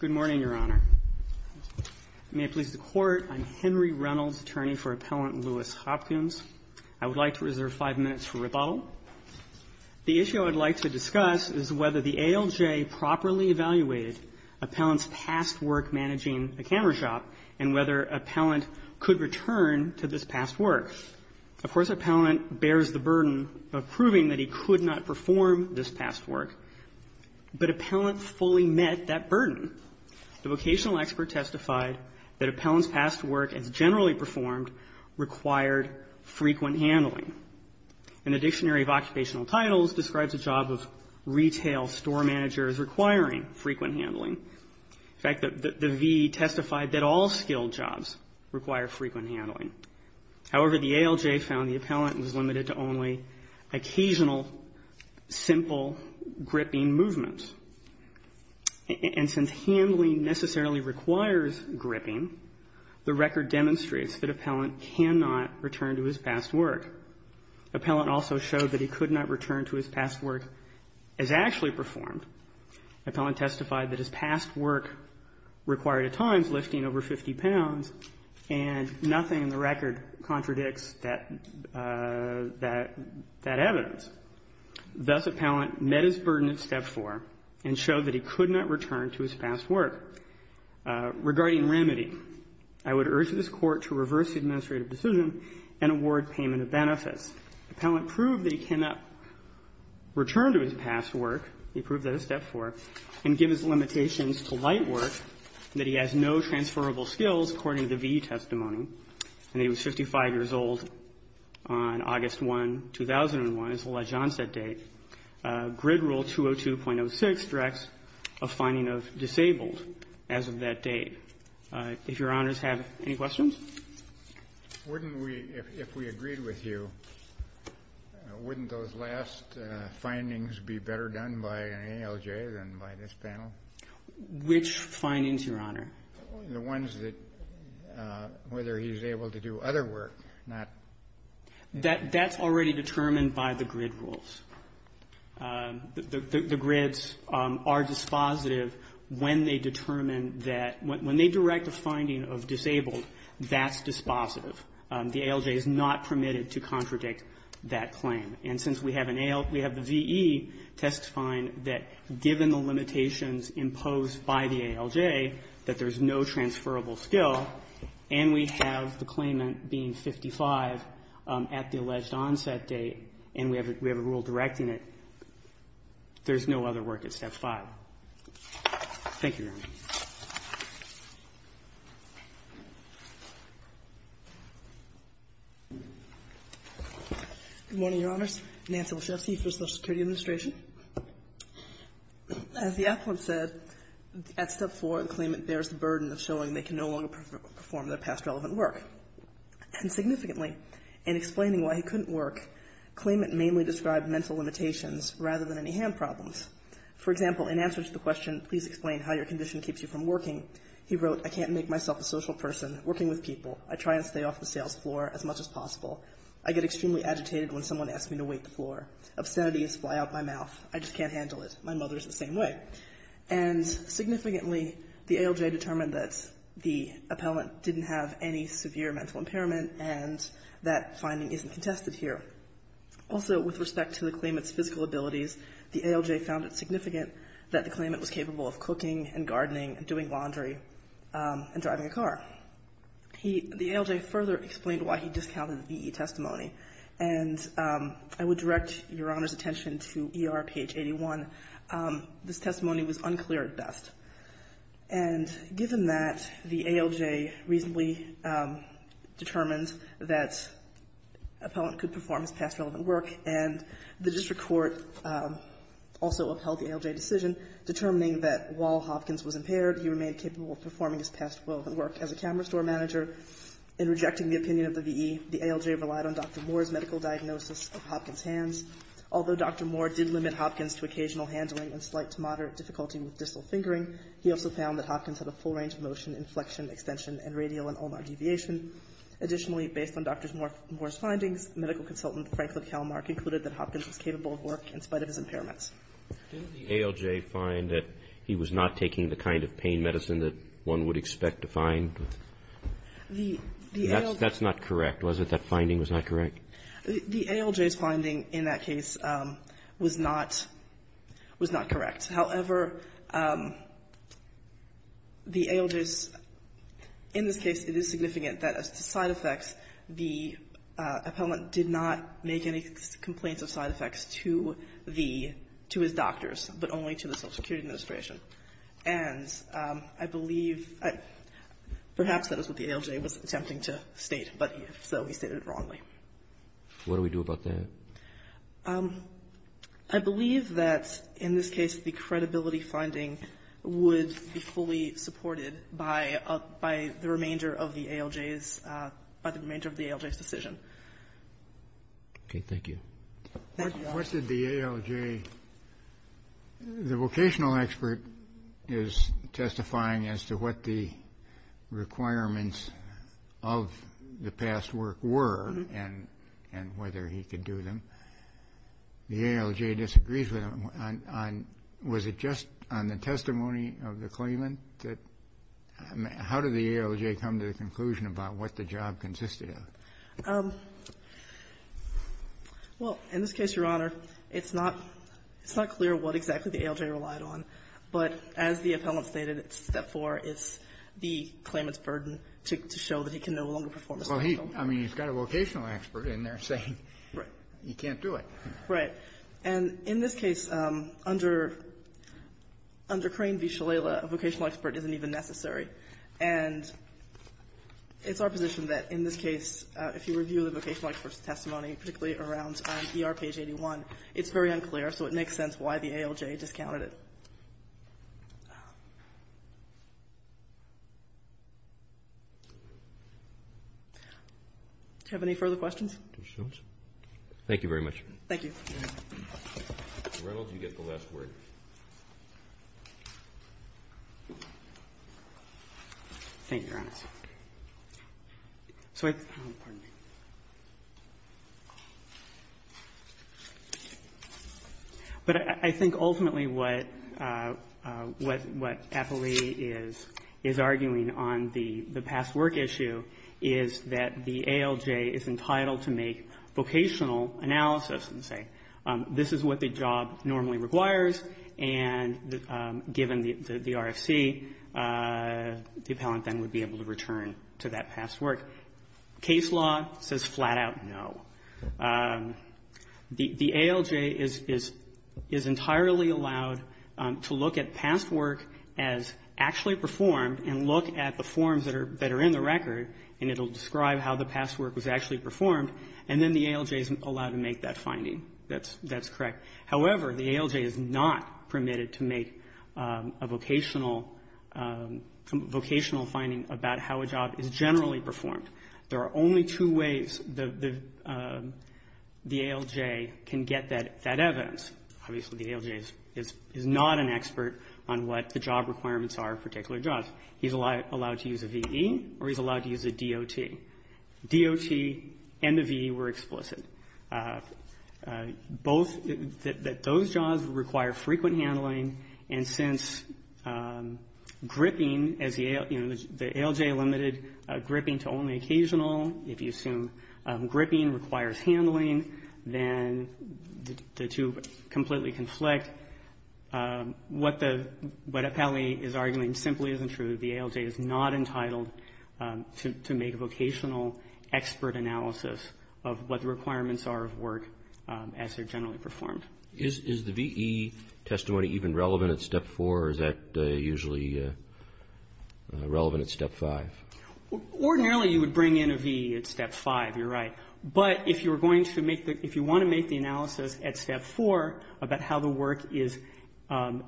Good morning, Your Honor. May it please the Court, I'm Henry Reynolds, attorney for Appellant Lewis Hopkins. I would like to reserve five minutes for rebuttal. The issue I'd like to discuss is whether the ALJ properly evaluated Appellant's past work managing the camera shop and whether Appellant could return to this past work. Of course, Appellant bears the burden of proving that he could not perform this past work, but Appellant fully met that burden. The vocational expert testified that Appellant's past work, as generally performed, required frequent handling. And the Dictionary of Occupational Titles describes a job of retail store manager as requiring frequent handling. In fact, the VE testified that all skilled jobs require frequent handling. However, the ALJ found the Appellant was limited to only occasional, simple gripping movements. And since handling necessarily requires gripping, the record demonstrates that Appellant cannot return to his past work. Appellant also showed that he could not return to his past work as actually performed. Appellant testified that his past work required at times lifting over 50 pounds, and nothing in the record contradicts that evidence. Thus, Appellant met his burden at Step 4 and showed that he could not return to his past work. Regarding remedy, I would urge this Court to reverse the administrative decision and award payment of benefits. Appellant proved that he cannot return to his past work. He proved that at Step 4. And give his limitations to light work, that he has no transferable skills, according to the VE testimony. And he was 55 years old on August 1, 2001. It's a ledge-onset date. Grid Rule 202.06 directs a finding of disabled as of that date. If Your Honors have any questions? Wouldn't we, if we agreed with you, wouldn't those last findings be better done by an ALJ than by this panel? Which findings, Your Honor? The ones that, whether he's able to do other work, not. That's already determined by the grid rules. The grids are dispositive when they determine that, when they direct a finding of disabled, that's dispositive. The ALJ is not permitted to contradict that claim. And since we have an ALJ, we have the VE testifying that, given the limitations imposed by the ALJ, that there's no transferable skill, and we have the claimant being 55 at the alleged onset date, and we have a rule directing it, there's no other work at Step 5. Thank you, Your Honor. Good morning, Your Honors. Nancy Wachowski for the Social Security Administration. As the applicant said, at Step 4, the claimant bears the burden of showing they can no longer perform their past relevant work. And significantly, in explaining why he couldn't work, claimant mainly described mental limitations rather than any hand problems. For example, in answer to the question, please explain how your condition keeps you from working, he wrote, I can't make myself a social person working with people. I try and stay off the sales floor as much as possible. I get extremely agitated when someone asks me to wait the floor. Obscenities fly out my mouth. I just can't handle it. My mother is the same way. And significantly, the ALJ determined that the appellant didn't have any severe mental impairment, and that finding isn't contested here. Also, with respect to the claimant's physical abilities, the ALJ found it significant that the claimant was capable of cooking and gardening and doing laundry and driving a car. He — the ALJ further explained why he discounted the V.E. testimony. And I would direct Your Honor's attention to ER page 81. This testimony was unclear at best. And given that, the ALJ reasonably determined that appellant could perform his past relevant work, and the district court also upheld the ALJ decision, determining that while Hopkins was impaired, he remained capable of performing his past relevant work as a camera store manager. In rejecting the opinion of the V.E., the ALJ relied on Dr. Moore's medical diagnosis of Hopkins' hands. Although Dr. Moore did limit Hopkins to occasional handling and slight to moderate difficulty with distal fingering, he also found that Hopkins had a full range of motion in flexion, extension, and radial and ulnar deviation. Additionally, based on Dr. Moore's findings, medical consultant Franklin Kalmark included that Hopkins was capable of work in spite of his impairments. Didn't the ALJ find that he was not taking the kind of pain medicine that one would expect to find? The ALJ — That's not correct, was it? That finding was not correct? The ALJ's finding in that case was not — was not correct. However, the ALJ's — in this case, it is significant that as to side effects, the appellant did not make any complaints of side effects to the — to his doctors, but only to the Social Security Administration. And I believe — perhaps that is what the ALJ was attempting to state, but if so, he stated it wrongly. What do we do about that? I believe that, in this case, the credibility finding would be fully supported by the remainder of the ALJ's — by the remainder of the ALJ's decision. Okay. Thank you. What did the ALJ — the vocational expert is testifying as to what the requirements of the past work were, and whether he could do them. The ALJ disagrees with him on — on — was it just on the testimony of the claimant that — how did the ALJ come to the conclusion about what the job consisted of? Well, in this case, Your Honor, it's not — it's not clear what exactly the ALJ relied on. But as the appellant stated, step four is the claimant's burden to show that he can no longer perform his job. Well, he — I mean, he's got a vocational expert in there saying he can't do it. Right. And in this case, under — under Crane v. Shalala, a vocational expert isn't even necessary. And it's our position that, in this case, if you review the vocational expert's testimony, particularly around ER page 81, it's very unclear, so it makes sense why the ALJ discounted it. Do you have any further questions? Thank you very much. Thank you. Mr. Reynolds, you get the last word. Thank you, Your Honor. So I — oh, pardon me. But I think ultimately what — what — what Apolli is — is arguing on the past work issue is that the ALJ is entitled to make vocational analysis and say, this is what the job normally requires, and given the RFC, the appellant then would be able to return to that past work. Case law says flat out no. The ALJ is — is entirely allowed to look at past work as actually performed and look at the forms that are — that are in the record, and it will describe how the past work was actually performed, and then the ALJ is allowed to make that but is not permitted to make a vocational — vocational finding about how a job is generally performed. There are only two ways the — the ALJ can get that — that evidence. Obviously, the ALJ is — is not an expert on what the job requirements are of particular jobs. He's allowed to use a VE or he's allowed to use a DOT. DOT and the VE were explicit. Both — that those jobs require frequent handling, and since gripping as the — you know, the ALJ limited gripping to only occasional, if you assume gripping requires handling, then the two completely conflict. What the — what Apolli is arguing simply isn't true. The ALJ is not entitled to make a vocational expert analysis of what the requirements are of work as they're generally performed. Roberts. Is the VE testimony even relevant at Step 4, or is that usually relevant at Step 5? Feigin. Ordinarily, you would bring in a VE at Step 5. You're right. But if you're going to make the — if you want to make the analysis at Step 4 about how the work is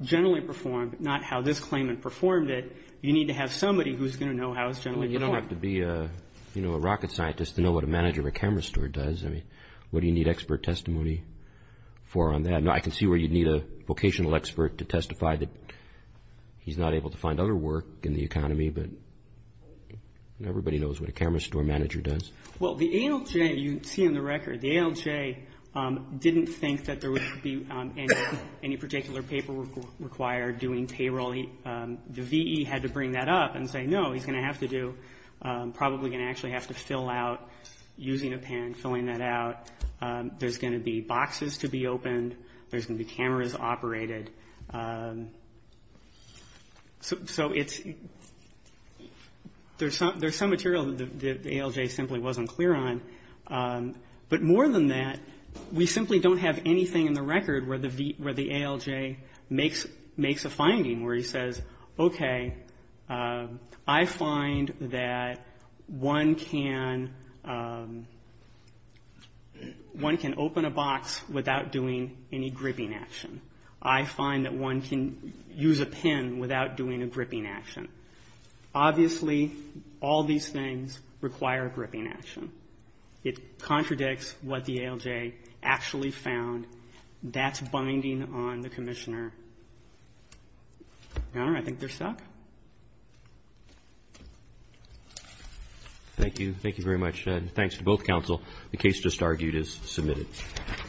generally performed, not how this claimant performed it, you need to have somebody who's going to know how it's generally performed. Well, you don't have to be a — you know, a rocket scientist to know what a manager of a camera store does. I mean, what do you need expert testimony for on that? I can see where you'd need a vocational expert to testify that he's not able to find other work in the economy, but everybody knows what a camera store manager does. Well, the ALJ, you see in the record, the ALJ didn't think that there would be any particular paperwork required doing payroll. The VE had to bring that up and say, no, he's going to have to do — probably going to actually have to fill out, using a pen, filling that out. There's going to be boxes to be opened. There's going to be cameras operated. So it's — there's some material that the ALJ simply wasn't clear on. But more than that, we simply don't have anything in the record where the ALJ makes a finding where he says, okay, I find that one can — one can open a box without doing any gripping action. I find that one can use a pen without doing a gripping action. Obviously, all these things require a gripping action. It contradicts what the ALJ actually found. That's binding on the Commissioner. Your Honor, I think they're stuck. Thank you. Thank you very much. And thanks to both counsel. The case just argued is submitted.